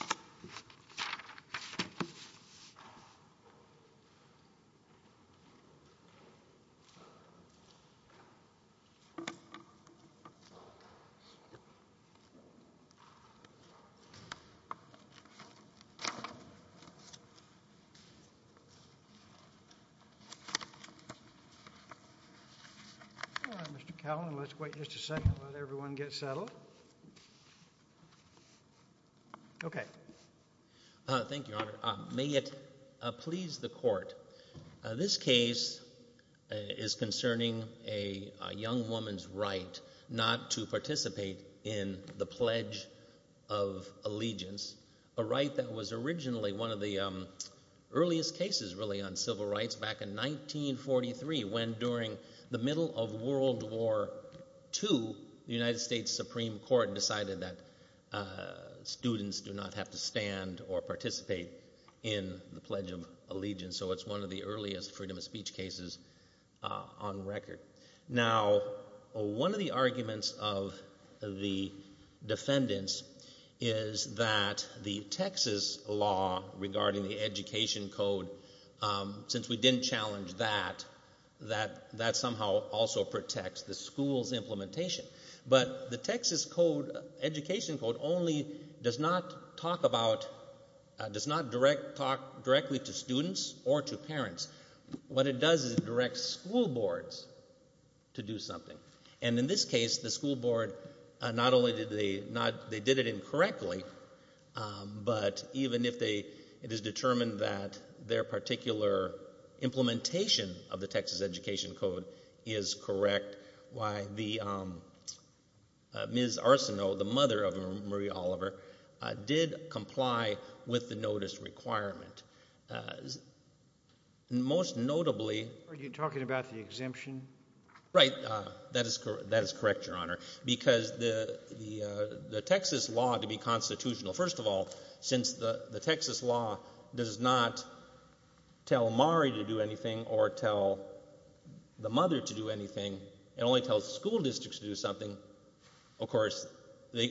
, Thank you, Your Honor. May it please the court. This case is concerning a young woman's right not to participate in the Pledge of Allegiance, a right that was originally one of the earliest cases really on civil rights back in 1943 when during the middle of World War II, the United States Supreme Court decided that students do not have to stand or participate in the Pledge of Allegiance. So it's one of the earliest freedom of speech cases on record. Now, one of the arguments of the defendants is that the Texas law regarding the education code, since we didn't challenge that, that somehow also protects the school's implementation. But the Texas education code only does not talk directly to students or to parents. What it does is it directs school boards to do something. And in this case, the school board not only did they not, they did it incorrectly, but even if they, it is determined that their particular implementation of the Texas education code is correct, why the Ms. Arsenault, the mother of Marie Oliver, did comply with the notice requirement. Most notably... Are you talking about the exemption? Right. That is correct, Your Honor, because the Texas law, to be constitutional, first of all, since the Texas law does not tell Marie to do anything or tell the mother to do anything, it only tells the school districts to do something, of course,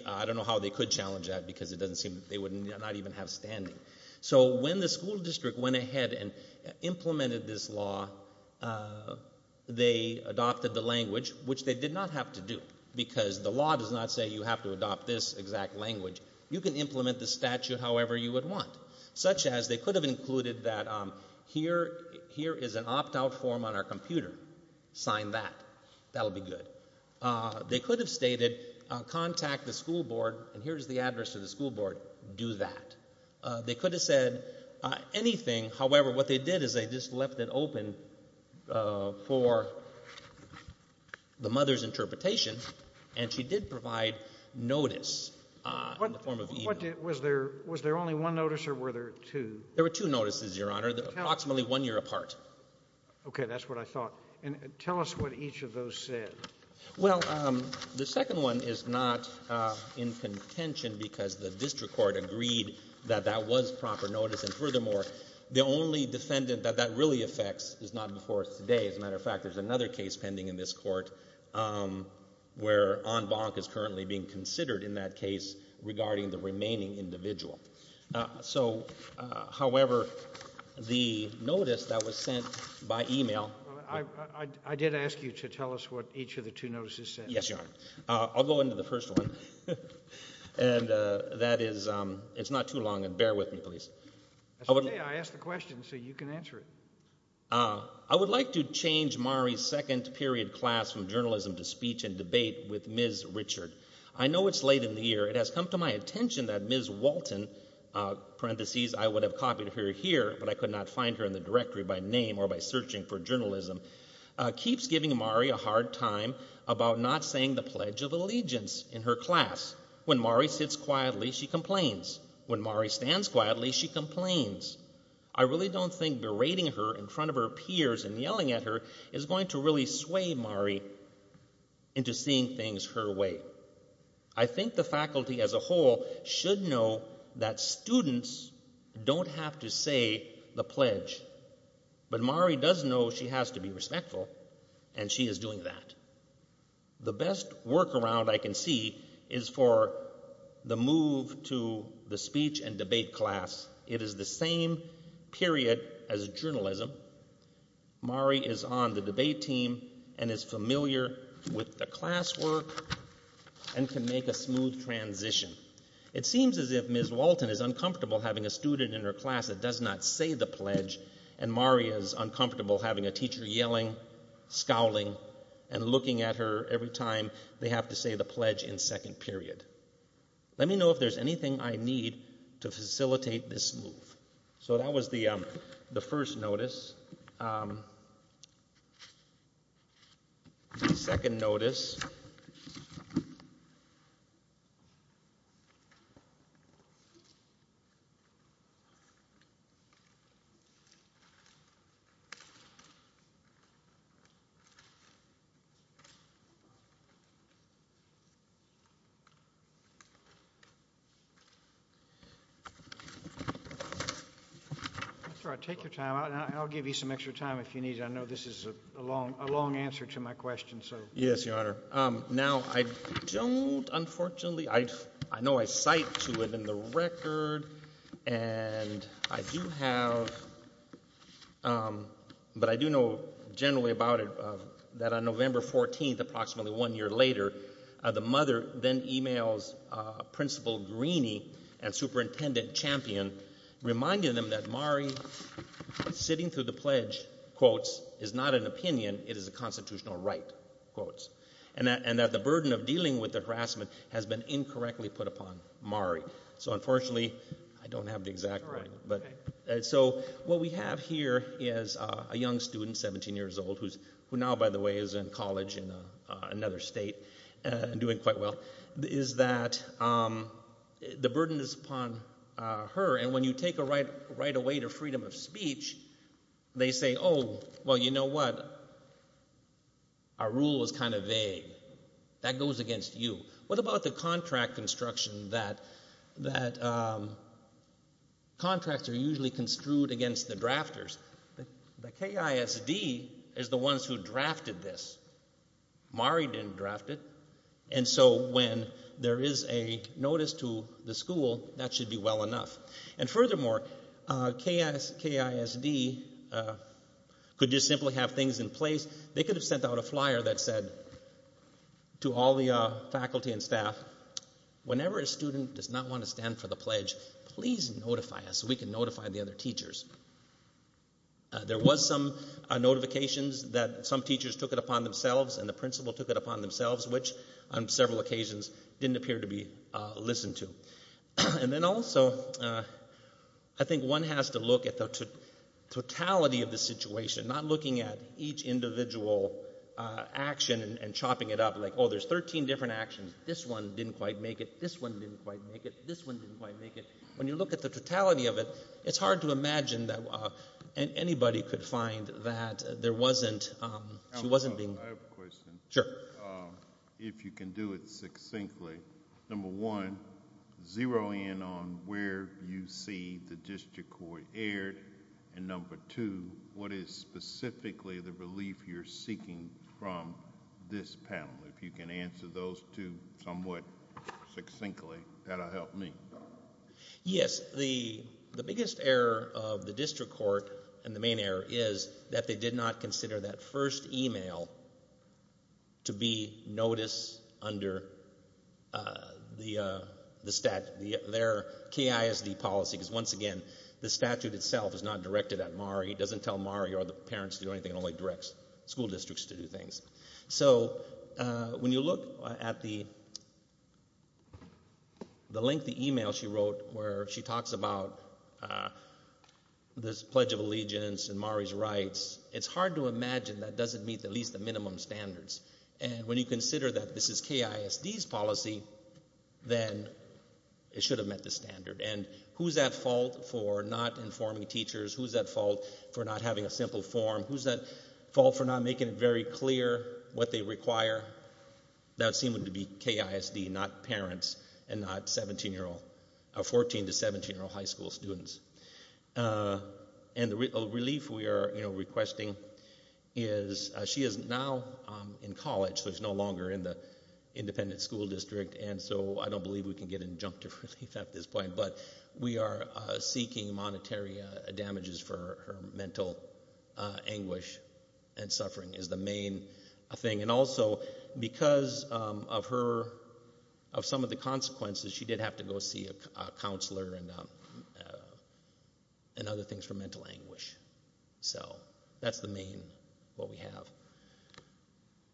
I don't know how they could challenge that because it doesn't seem that they would not even have standing. So when the school district went ahead and implemented this law, they adopted the language, which they did not have to do, because the law does not say you have to adopt this exact language. You can implement the statute however you would want, such as they could have included that here is an opt-out form on our computer. Sign that. That'll be good. They could have stated contact the school board, and here's the address to the school board, do that. They could have said anything, however, what they did is they just left it open for the mother's interpretation, and she did provide notice in the form of email. Was there only one notice or were there two? There were two notices, Your Honor, approximately one year apart. Okay, that's what I thought. And tell us what each of those said. Well, the second one is not in contention because the district court agreed that that was proper notice, and furthermore, the only defendant that that really affects is not before us today. As a matter of fact, there's another case pending in this court where en banc is currently being considered in that case regarding the remaining individual. So, however, the notice that was sent by email I did ask you to tell us what each of the two notices said. Yes, Your Honor. I'll go into the first one, and that is, it's not too long, and bear with me, please. That's okay, I asked the question so you can answer it. I would like to change Mari's second period class from journalism to speech and debate with Ms. Richard. I know it's late in the year. It has come to my attention that Ms. Walton, I would have copied her here, but I could not find her in the directory by name or by searching for journalism, keeps giving Mari a hard time about not saying the Pledge of Allegiance in her class. When Mari sits quietly, she complains. When Mari stands quietly, she complains. I really don't think berating her in front of her peers and yelling at her is going to really sway Mari into seeing things her way. I think the faculty as a whole should know that students don't have to say the Pledge, but Mari does know she has to be respectful, and she is doing that. The best workaround I can see is for the move to the speech and debate class. It is the same period as journalism. Mari is on the debate team and is familiar with the classwork and can make a smooth transition. It seems as if Ms. Walton is uncomfortable having a student in her class that does not say the Pledge, and Mari is uncomfortable having a teacher yelling, scowling, and looking at her every time they have to say the Pledge in second period. Let me know if there is anything I need to facilitate this move. So that was the first notice. I'll take your time. I'll give you some extra time if you need. I know this is a long answer to my question. Yes, Your Honor. Now I don't, unfortunately, I know I cite to it in the record, and I do have, but I do know generally about it, that on November 14th, approximately one year later, the mother then emails Principal Greeny and Superintendent Champion, reminding them that Mari sitting through the Pledge, quotes, is not an opinion, it is a constitutional right, quotes, and that the burden of dealing with the harassment has been incorrectly put upon Mari. So unfortunately, I don't have the exact right. So what we have here is a young student, 17 years old, who now, by the way, is in college in another state and doing quite well, is that the burden is upon her, and when you take a right away to freedom of speech, they say, oh, well, you know what, our rule is kind of vague. That goes against you. What about the contract construction that contracts are usually construed against the drafters? The KISD is the ones who drafted this. Mari didn't draft it, and so when there is a notice to the school, that should be well enough. And furthermore, KISD could just simply have things in place. They could have sent out a flyer that said to all the faculty and staff, whenever a student does not want to stand for the Pledge, please notify us so we can notify the other teachers. There was some notifications that some teachers took it upon themselves and the principal took it upon themselves, which on several occasions didn't appear to be listened to. And then also, I think one has to look at the totality of the situation, not looking at each individual action and chopping it up, like, oh, there's 13 different actions. This one didn't quite make it. This one didn't quite make it. This one didn't quite make it. When you look at the totality of it, it's hard to imagine that anybody could find that there wasn't – she wasn't being – Sure. If you can do it succinctly, number one, zero in on where you see the district court erred, and number two, what is specifically the relief you're seeking from this panel? If you can answer those two somewhat succinctly, that will help me. Yes, the biggest error of the district court, and the main error, is that they did not consider that first email to be noticed under the statute. Their KISD policy, because once again, the statute itself is not directed at MARI. It doesn't tell MARI or the parents to do anything. It only directs school districts to do things. So when you look at the lengthy email she wrote where she talks about this Pledge of Allegiance and MARI's rights, it's hard to imagine that doesn't meet at least the minimum standards. And when you consider that this is KISD's policy, then it should have met the standard. And who's at fault for not informing teachers? Who's at fault for not having a simple form? Who's at fault for not making it very clear what they require? That would seem to be KISD, not parents, and not 14- to 17-year-old high school students. And the relief we are requesting is, she is now in college, so she's no longer in the independent school district, and so I don't believe we can get injunctive relief at this point, but we are seeking monetary damages for her mental anguish and suffering is the main thing. And also, because of some of the consequences, she did have to go see a counselor and other things for mental anguish. So that's the main what we have.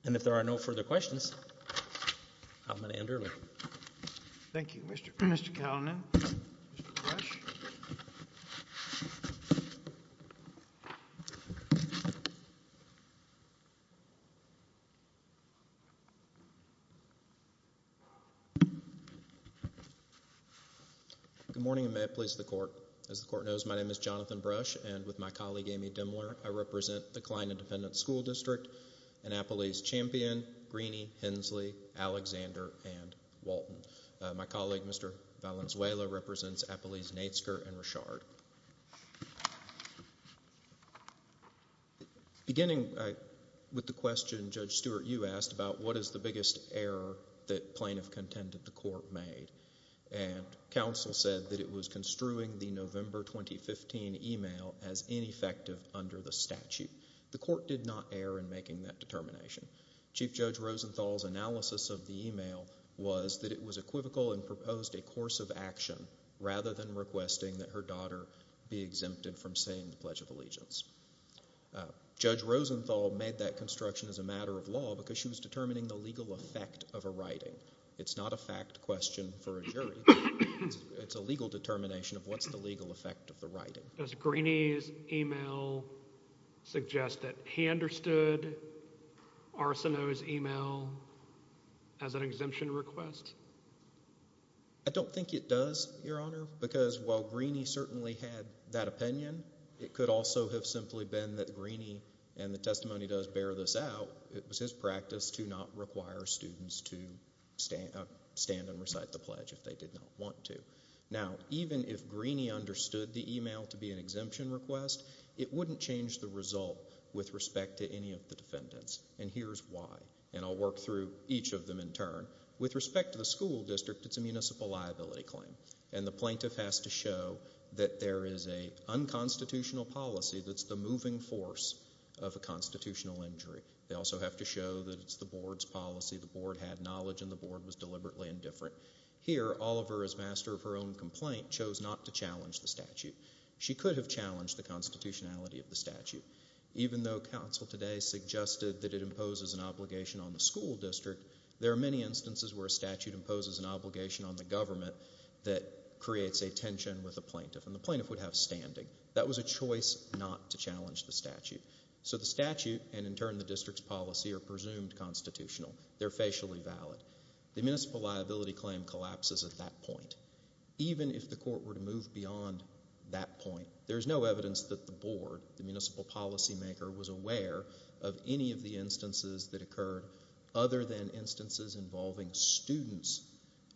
And if there are no further questions, I'm going to end early. Thank you, Mr. Kalanick. Mr. Brush? Good morning, and may it please the court. As the court knows, my name is Jonathan Brush, and with my colleague Amy Dimler, I represent the Kline Independent School District, and Appelese Champion, Greeney, Hensley, Alexander, and Walton. My colleague, Mr. Valenzuela, represents Appelese Natesker and Richard. Beginning with the question Judge Stewart, you asked about what is the biggest error that plaintiff contended the court made, and counsel said that it was construing the November 2015 email as ineffective under the statute. The court did not err in making that determination. Chief Judge Rosenthal's analysis of the email was that it was equivocal and proposed a course of action rather than requesting that her daughter be exempted from saying the Pledge of Allegiance. Judge Rosenthal made that construction as a matter of law because she was determining the legal effect of a writing. It's not a fact question for a jury. It's a legal determination of what's the legal effect of the writing. Does Greeney's email suggest that he understood Arsenault's email as an exemption request? I don't think it does, Your Honor, because while Greeney certainly had that opinion, it could also have simply been that Greeney, and the testimony does bear this out, it was his practice to not require students to stand and recite the pledge if they did not want to. Now, even if Greeney understood the email to be an exemption request, it wouldn't change the result with respect to any of the defendants, and here's why, and I'll work through each of them in turn. With respect to the school district, it's a municipal liability claim, and the plaintiff has to show that there is an unconstitutional policy that's the moving force of a constitutional injury. They also have to show that it's the board's policy. The board had knowledge and the board was deliberately indifferent. Here, Oliver, as master of her own complaint, chose not to challenge the statute. She could have challenged the constitutionality of the statute. Even though counsel today suggested that it imposes an obligation on the school district, there are many instances where a statute imposes an obligation on the government that creates a tension with a plaintiff, and the plaintiff would have standing. That was a choice not to challenge the statute. So the statute, and in turn the district's policy, are presumed constitutional. They're facially valid. The municipal liability claim collapses at that point. Even if the court were to move beyond that point, there's no evidence that the board, the municipal policymaker, was aware of any of the instances that occurred other than instances involving students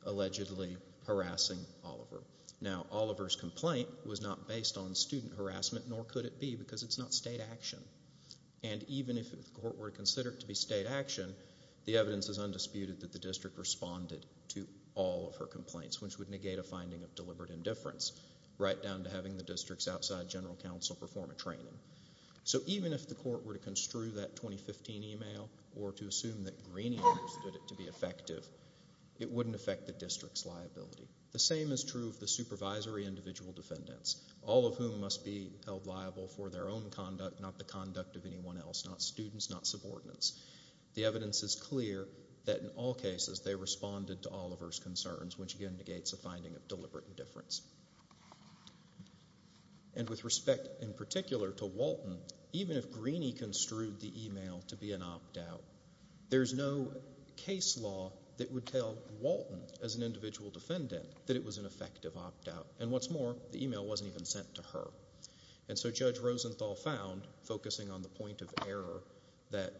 allegedly harassing Oliver. Now, Oliver's complaint was not based on student harassment, nor could it be because it's not state action. And even if the court were to consider it to be state action, the evidence is undisputed that the district responded to all of her complaints, which would negate a finding of deliberate indifference, right down to having the district's outside general counsel perform a training. So even if the court were to construe that 2015 email or to assume that Greeney understood it to be effective, it wouldn't affect the district's liability. The same is true of the supervisory individual defendants, all of whom must be held liable for their own conduct, not the conduct of anyone else, not students, not subordinates. The evidence is clear that in all cases they responded to Oliver's concerns, which again negates a finding of deliberate indifference. And with respect in particular to Walton, even if Greeney construed the email to be an opt-out, there's no case law that would tell Walton, as an individual defendant, that it was an effective opt-out. And what's more, the email wasn't even sent to her. And so Judge Rosenthal found, focusing on the point of error, that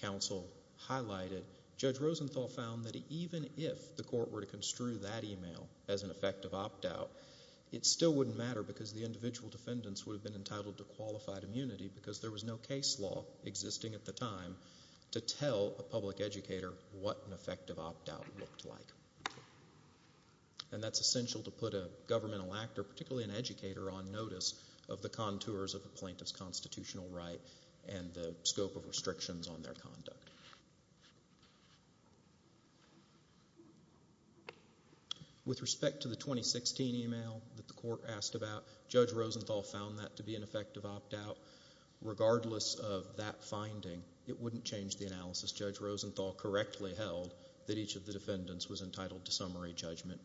counsel highlighted, Judge Rosenthal found that even if the court were to construe that email as an effective opt-out, it still wouldn't matter because the individual defendants would have been entitled to qualified immunity because there was no case law existing at the time to tell a public educator what an effective opt-out looked like. And that's essential to put a governmental actor, particularly an educator, on notice of the contours of a plaintiff's constitutional right and the scope of restrictions on their conduct. With respect to the 2016 email that the court asked about, Judge Rosenthal found that to be an effective opt-out. Regardless of that finding, it wouldn't change the analysis. Judge Rosenthal correctly held that each of the defendants was entitled to summary judgment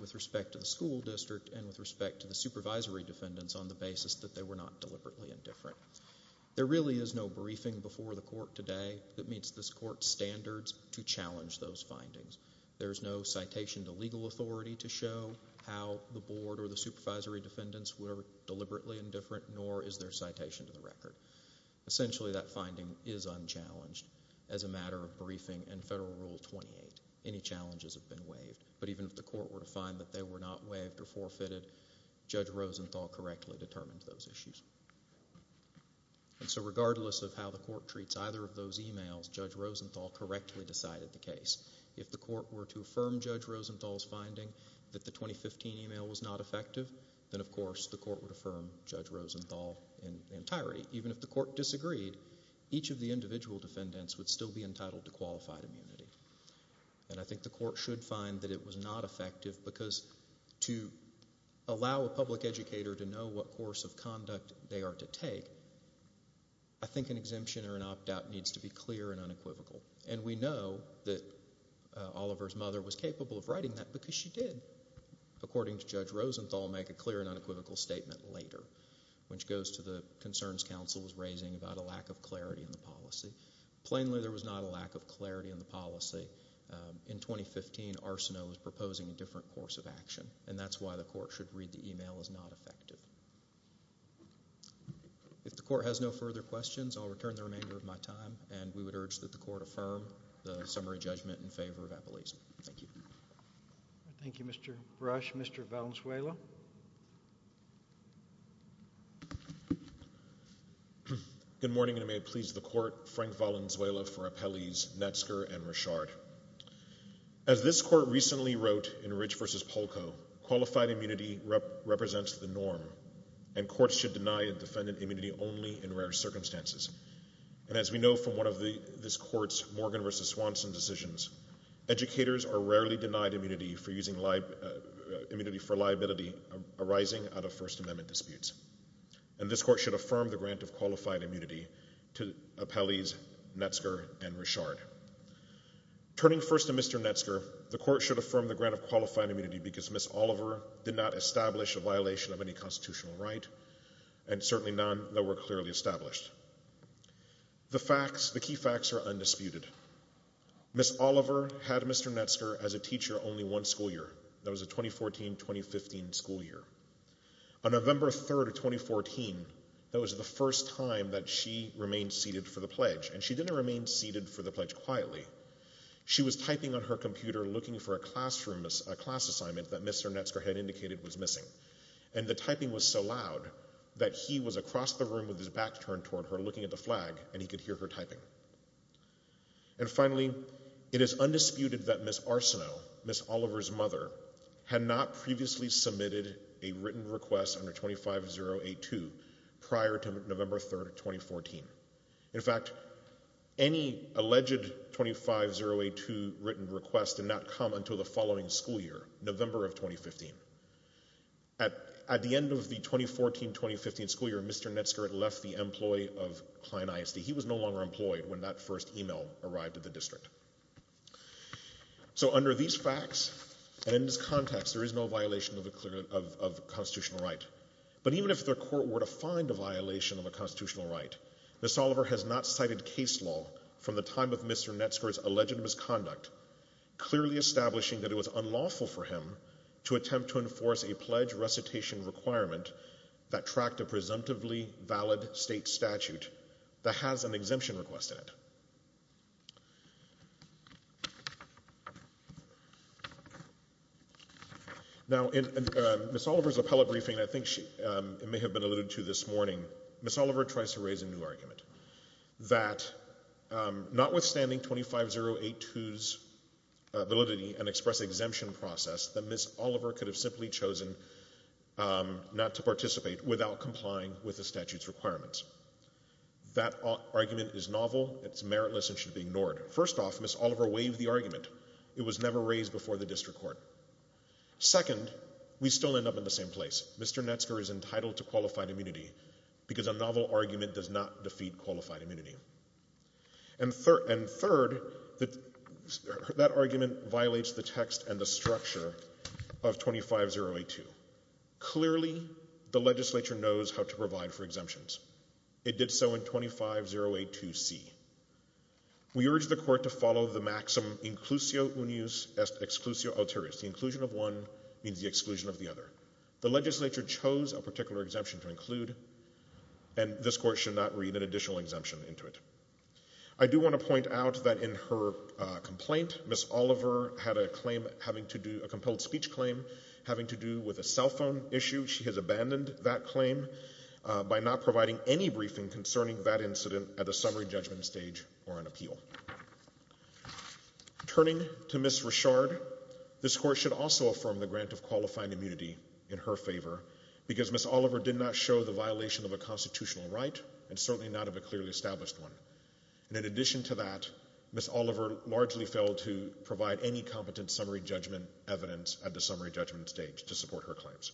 with respect to the school district and with respect to the supervisory defendants on the basis that they were not deliberately indifferent. There really is no briefing before the court today that meets this court's standards to challenge those findings. There is no citation to legal authority to show how the board or the supervisory defendants were deliberately indifferent, nor is there citation to the record. Essentially, that finding is unchallenged. As a matter of briefing in Federal Rule 28, any challenges have been waived. But even if the court were to find that they were not waived or forfeited, Judge Rosenthal correctly determined those issues. Regardless of how the court treats either of those emails, Judge Rosenthal correctly decided the case. If the court were to affirm Judge Rosenthal's finding that the 2015 email was not effective, then of course the court would affirm Judge Rosenthal in entirety. Even if the court disagreed, each of the individual defendants would still be entitled to qualified immunity. I think the court should find that it was not effective because to allow a public educator to know what course of conduct they are to take, I think an exemption or an opt-out needs to be clear and unequivocal. And we know that Oliver's mother was capable of writing that because she did, according to Judge Rosenthal, make a clear and unequivocal statement later, which goes to the concerns counsel was raising about a lack of clarity in the policy. Plainly, there was not a lack of clarity in the policy. In 2015, Arsenault was proposing a different course of action, and that's why the court should read the email as not effective. If the court has no further questions, I'll return the remainder of my time, and we would urge that the court affirm the summary judgment in favor of Apelles. Thank you. Thank you, Mr. Brush. Mr. Valenzuela. Good morning, and may it please the court, Frank Valenzuela for Apelles, Netsker, and Richard. As this court recently wrote in Ridge v. Polko, qualified immunity represents the norm, and courts should deny a defendant immunity only in rare circumstances. And as we know from one of this court's Morgan v. Swanson decisions, educators are rarely denied immunity for liability arising out of First Amendment disputes. And this court should affirm the grant of qualified immunity to Apelles, Netsker, and Richard. Turning first to Mr. Netsker, the court should affirm the grant of qualified immunity because Ms. Oliver did not establish a violation of any constitutional right, and certainly none that were clearly established. The facts, the key facts, are undisputed. Ms. Oliver had Mr. Netsker as a teacher only one school year. That was a 2014-2015 school year. On November 3, 2014, that was the first time that she remained seated for the pledge, and she didn't remain seated for the pledge quietly. She was typing on her computer looking for a class assignment that Mr. Netsker had indicated was missing, and the typing was so loud that he was across the room with his back turned toward her, looking at the flag, and he could hear her typing. And finally, it is undisputed that Ms. Arsenault, Ms. Oliver's mother, had not previously submitted a written request under 25082 prior to November 3, 2014. In fact, any alleged 25082 written request did not come until the following school year, November of 2015. At the end of the 2014-2015 school year, Mr. Netsker had left the employ of Klein ISD. He was no longer employed when that first email arrived at the district. So under these facts and in this context, there is no violation of constitutional right. But even if the court were to find a violation of a constitutional right, Ms. Oliver has not cited case law from the time of Mr. Netsker's alleged misconduct, clearly establishing that it was unlawful for him to attempt to enforce a pledge recitation requirement that tracked a presumptively valid state statute that has an exemption request in it. Now, in Ms. Oliver's appellate briefing, I think it may have been alluded to this morning, Ms. Oliver tries to raise a new argument that notwithstanding 25082's validity and express exemption process, that Ms. Oliver could have simply chosen not to participate without complying with the statute's requirements. That argument is novel, it's meritless and should be ignored. First off, Ms. Oliver waived the argument. It was never raised before the district court. Second, we still end up in the same place. Mr. Netsker is entitled to qualified immunity because a novel argument does not defeat qualified immunity. And third, that argument violates the text and the structure of 25082. Clearly, the legislature knows how to provide for exemptions. It did so in 25082C. We urge the court to follow the maxim inclusio unius est exclusio ulterioris. The inclusion of one means the exclusion of the other. The legislature chose a particular exemption to include, and this court should not read an additional exemption into it. I do want to point out that in her complaint, Ms. Oliver had a compelled speech claim having to do with a cell phone issue. She has abandoned that claim by not providing any briefing concerning that incident at the summary judgment stage or an appeal. Turning to Ms. Richard, this court should also affirm the grant of qualified immunity in her favor because Ms. Oliver did not show the violation of a constitutional right and certainly not of a clearly established one. And in addition to that, Ms. Oliver largely failed to provide any competent summary judgment evidence at the summary judgment stage to support her claims.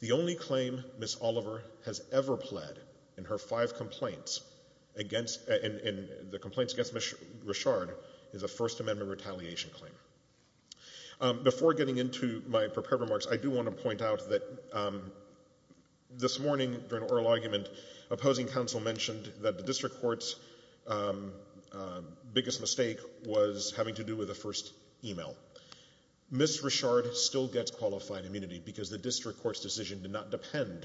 The only claim Ms. Oliver has ever pled in her five complaints against Ms. Richard is a First Amendment retaliation claim. Before getting into my prepared remarks, I do want to point out that this morning, during oral argument, opposing counsel mentioned that the district court's biggest mistake was having to do with the first email. Ms. Richard still gets qualified immunity because the district court's decision did not depend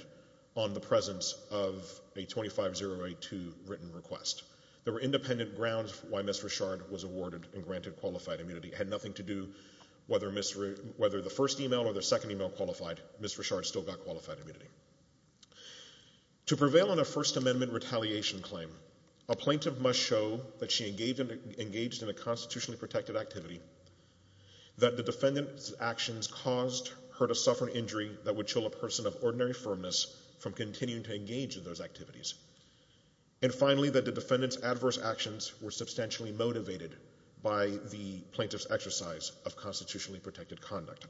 on the presence of a 25082 written request. There were independent grounds why Ms. Richard was awarded and granted qualified immunity. It had nothing to do whether the first email or the second email qualified, Ms. Richard still got qualified immunity. To prevail on a First Amendment retaliation claim, a plaintiff must show that she engaged in a constitutionally protected activity that the defendant's actions caused her to suffer an injury that would chill a person of ordinary firmness from continuing to engage in those activities, and finally, that the defendant's adverse actions were substantially motivated by the plaintiff's exercise of constitutionally protected conduct.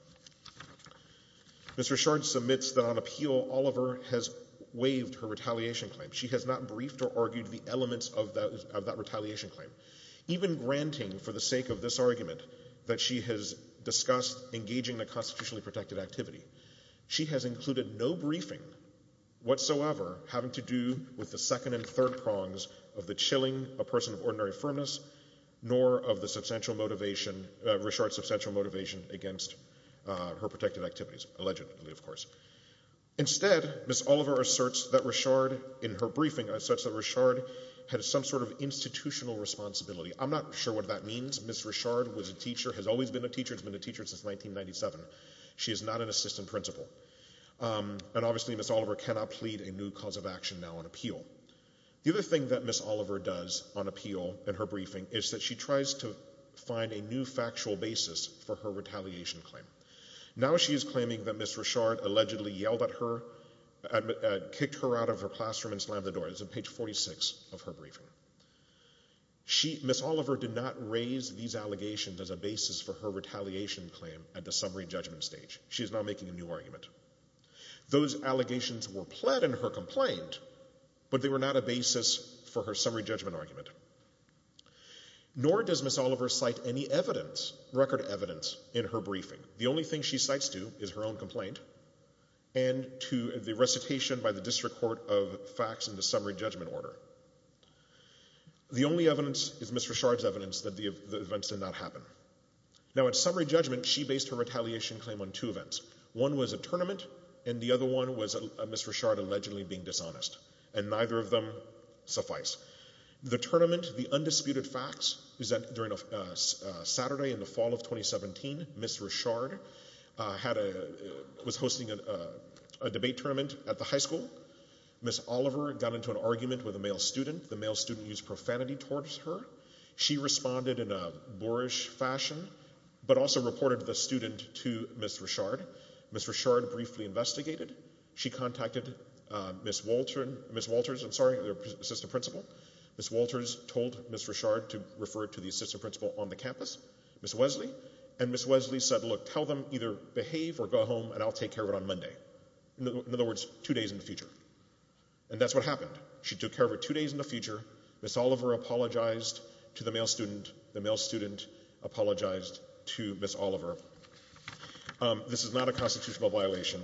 Ms. Richard submits that on appeal, Oliver has waived her retaliation claim. She has not briefed or argued the elements of that retaliation claim. Even granting for the sake of this argument that she has discussed engaging in a constitutionally protected activity, she has included no briefing whatsoever having to do with the second and third prongs of the chilling a person of ordinary firmness, nor of the substantial motivation, Richard's substantial motivation against her protected activities, allegedly, of course. Instead, Ms. Oliver asserts that Richard, in her briefing, asserts that Richard had some sort of institutional responsibility. I'm not sure what that means. Ms. Richard was a teacher, has always been a teacher, has been a teacher since 1997. She is not an assistant principal. And obviously, Ms. Oliver cannot plead a new cause of action now on appeal. The other thing that Ms. Oliver does on appeal in her briefing is that she tries to find a new factual basis for her retaliation claim. Now she is claiming that Ms. Richard allegedly yelled at her, kicked her out of her classroom and slammed the door. This is on page 46 of her briefing. Ms. Oliver did not raise these allegations as a basis for her retaliation claim at the summary judgment stage. She is now making a new argument. Those allegations were pled in her complaint, but they were not a basis for her summary judgment argument. Nor does Ms. Oliver cite any evidence, record evidence, in her briefing. The only thing she cites, too, is her own complaint, and to the recitation by the district court of facts in the summary judgment order. The only evidence is Ms. Richard's evidence that the events did not happen. Now at summary judgment, she based her retaliation claim on two events. One was a tournament, and the other one was Ms. Richard allegedly being dishonest. And neither of them suffice. The tournament, the undisputed facts, is that during a Saturday in the fall of 2017, Ms. Richard was hosting a debate tournament at the high school. Ms. Oliver got into an argument with a male student. The male student used profanity towards her. She responded in a boorish fashion, but also reported the student to Ms. Richard. Ms. Richard briefly investigated. She contacted Ms. Walters, the assistant principal. Ms. Walters told Ms. Richard to refer to the assistant principal on the campus, Ms. Wesley. And Ms. Wesley said, look, tell them either behave or go home, and I'll take care of it on Monday. In other words, two days in the future. And that's what happened. She took care of it two days in the future. Ms. Oliver apologized to the male student. The male student apologized to Ms. Oliver. This is not a constitutional violation.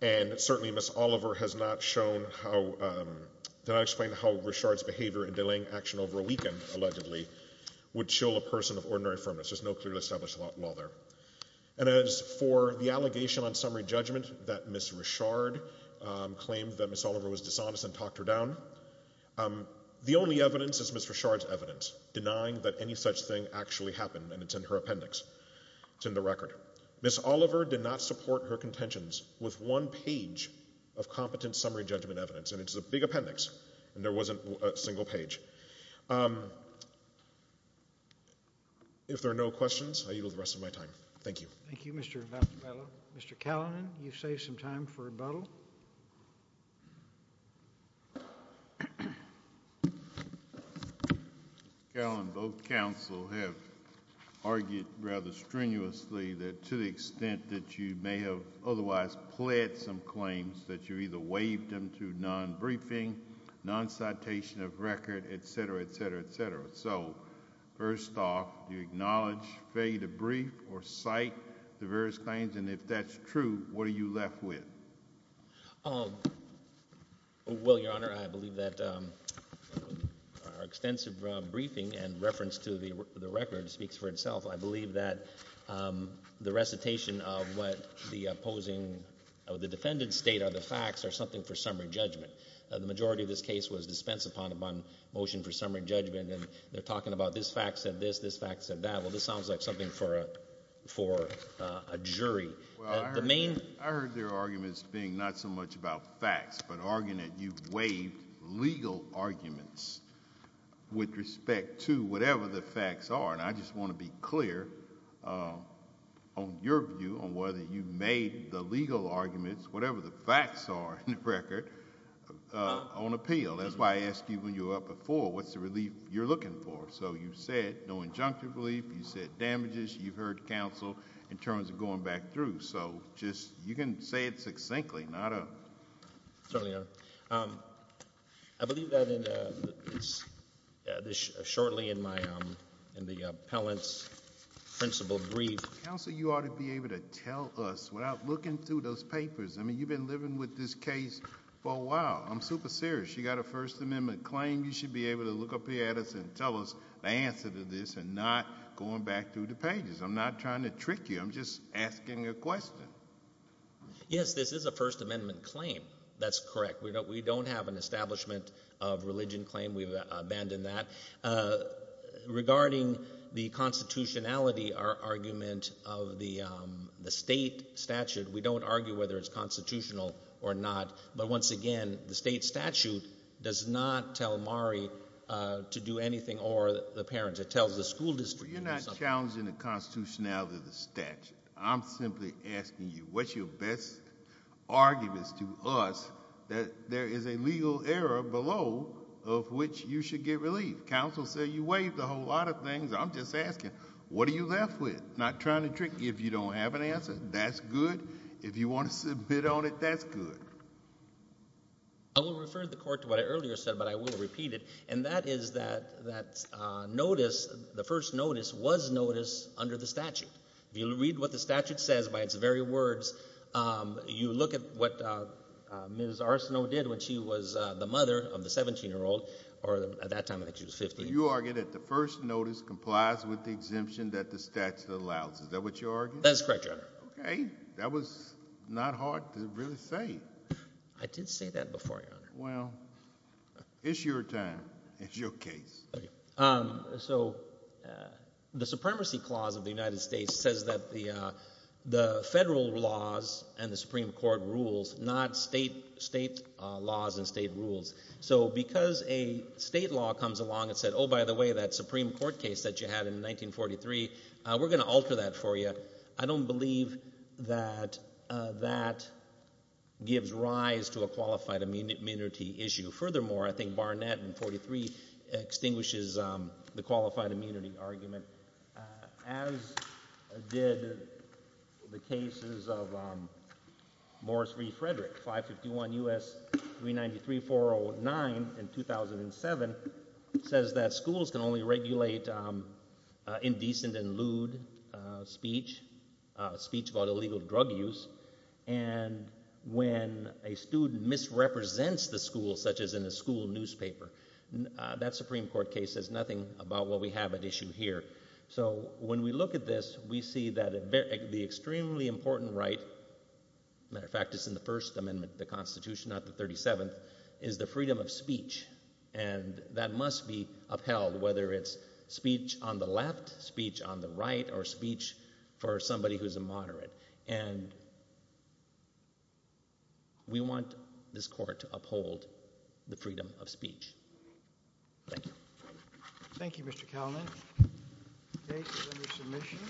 And certainly Ms. Oliver has not shown how, did not explain how Richard's behavior in delaying action over a weekend, allegedly, would chill a person of ordinary firmness. There's just no clearly established law there. And as for the allegation on summary judgment that Ms. Richard claimed that Ms. Oliver was dishonest and talked her down, the only evidence is Ms. Richard's evidence denying that any such thing actually happened, and it's in her appendix. It's in the record. Ms. Oliver did not support her contentions with one page of competent summary judgment evidence. And it's a big appendix, and there wasn't a single page. If there are no questions, I yield the rest of my time. Thank you. Thank you, Mr. Bellow. Mr. Callinan, you've saved some time for rebuttal. Mr. Callinan, both counsel have argued rather strenuously that to the extent that you may have otherwise pled some claims, that you either waived them through non-briefing, non-citation of record, et cetera, et cetera, et cetera. So first off, do you acknowledge, fade a brief, or cite the various claims? And if that's true, what are you left with? Well, Your Honor, I believe that our extensive briefing and reference to the record speaks for itself. I believe that the recitation of what the opposing or the defendant's state of the facts are something for summary judgment. The majority of this case was dispensed upon upon motion for summary judgment, and they're talking about this fact said this, this fact said that. Well, this sounds like something for a jury. Well, I heard their arguments being not so much about facts, but arguing that you waived legal arguments with respect to whatever the facts are. And I just want to be clear on your view on whether you made the legal arguments, whatever the facts are in the record, on appeal. That's why I asked you when you were up before, what's the relief you're looking for? So you said no injunctive relief. You said damages. You've heard counsel in terms of going back through. So just you can say it succinctly, not a. Certainly not. I believe that in this shortly in my in the appellant's principle brief. Counsel, you ought to be able to tell us without looking through those papers. I mean, you've been living with this case for a while. I'm super serious. You got a First Amendment claim. You should be able to look up here at us and tell us the answer to this and not going back through the pages. I'm not trying to trick you. I'm just asking a question. Yes, this is a First Amendment claim. That's correct. We don't have an establishment of religion claim. We've abandoned that. Regarding the constitutionality argument of the state statute, we don't argue whether it's constitutional or not. But once again, the state statute does not tell Mari to do anything or the parents. It tells the school district. You're not challenging the constitutionality of the statute. I'm simply asking you, what's your best argument to us that there is a legal error below of which you should get relief? Counsel said you waived a whole lot of things. I'm just asking, what are you left with? I'm not trying to trick you. If you don't have an answer, that's good. If you want to submit on it, that's good. I will refer the court to what I earlier said, but I will repeat it, and that is that notice, the first notice, was notice under the statute. If you read what the statute says by its very words, you look at what Ms. Arsenault did when she was the mother of the 17-year-old, or at that time I think she was 15. You argue that the first notice complies with the exemption that the statute allows. Is that what you argue? That's correct, Your Honor. Okay. That was not hard to really say. I did say that before, Your Honor. Well, it's your time. It's your case. So the Supremacy Clause of the United States says that the federal laws and the Supreme Court rules, not state laws and state rules. So because a state law comes along and said, oh, by the way, that Supreme Court case that you had in 1943, we're going to alter that for you. I don't believe that that gives rise to a qualified immunity issue. Furthermore, I think Barnett in 1943 extinguishes the qualified immunity argument, as did the cases of Morris v. Frederick. 551 U.S. 393-409 in 2007 says that schools can only regulate indecent and lewd speech, speech about illegal drug use. And when a student misrepresents the school, such as in a school newspaper, that Supreme Court case says nothing about what we have at issue here. So when we look at this, we see that the extremely important right, as a matter of fact, is in the First Amendment of the Constitution, not the 37th, is the freedom of speech. And that must be upheld, whether it's speech on the left, speech on the right, or speech for somebody who's a moderate. And we want this court to uphold the freedom of speech. Thank you. Thank you, Mr. Kalman. Case is under submission.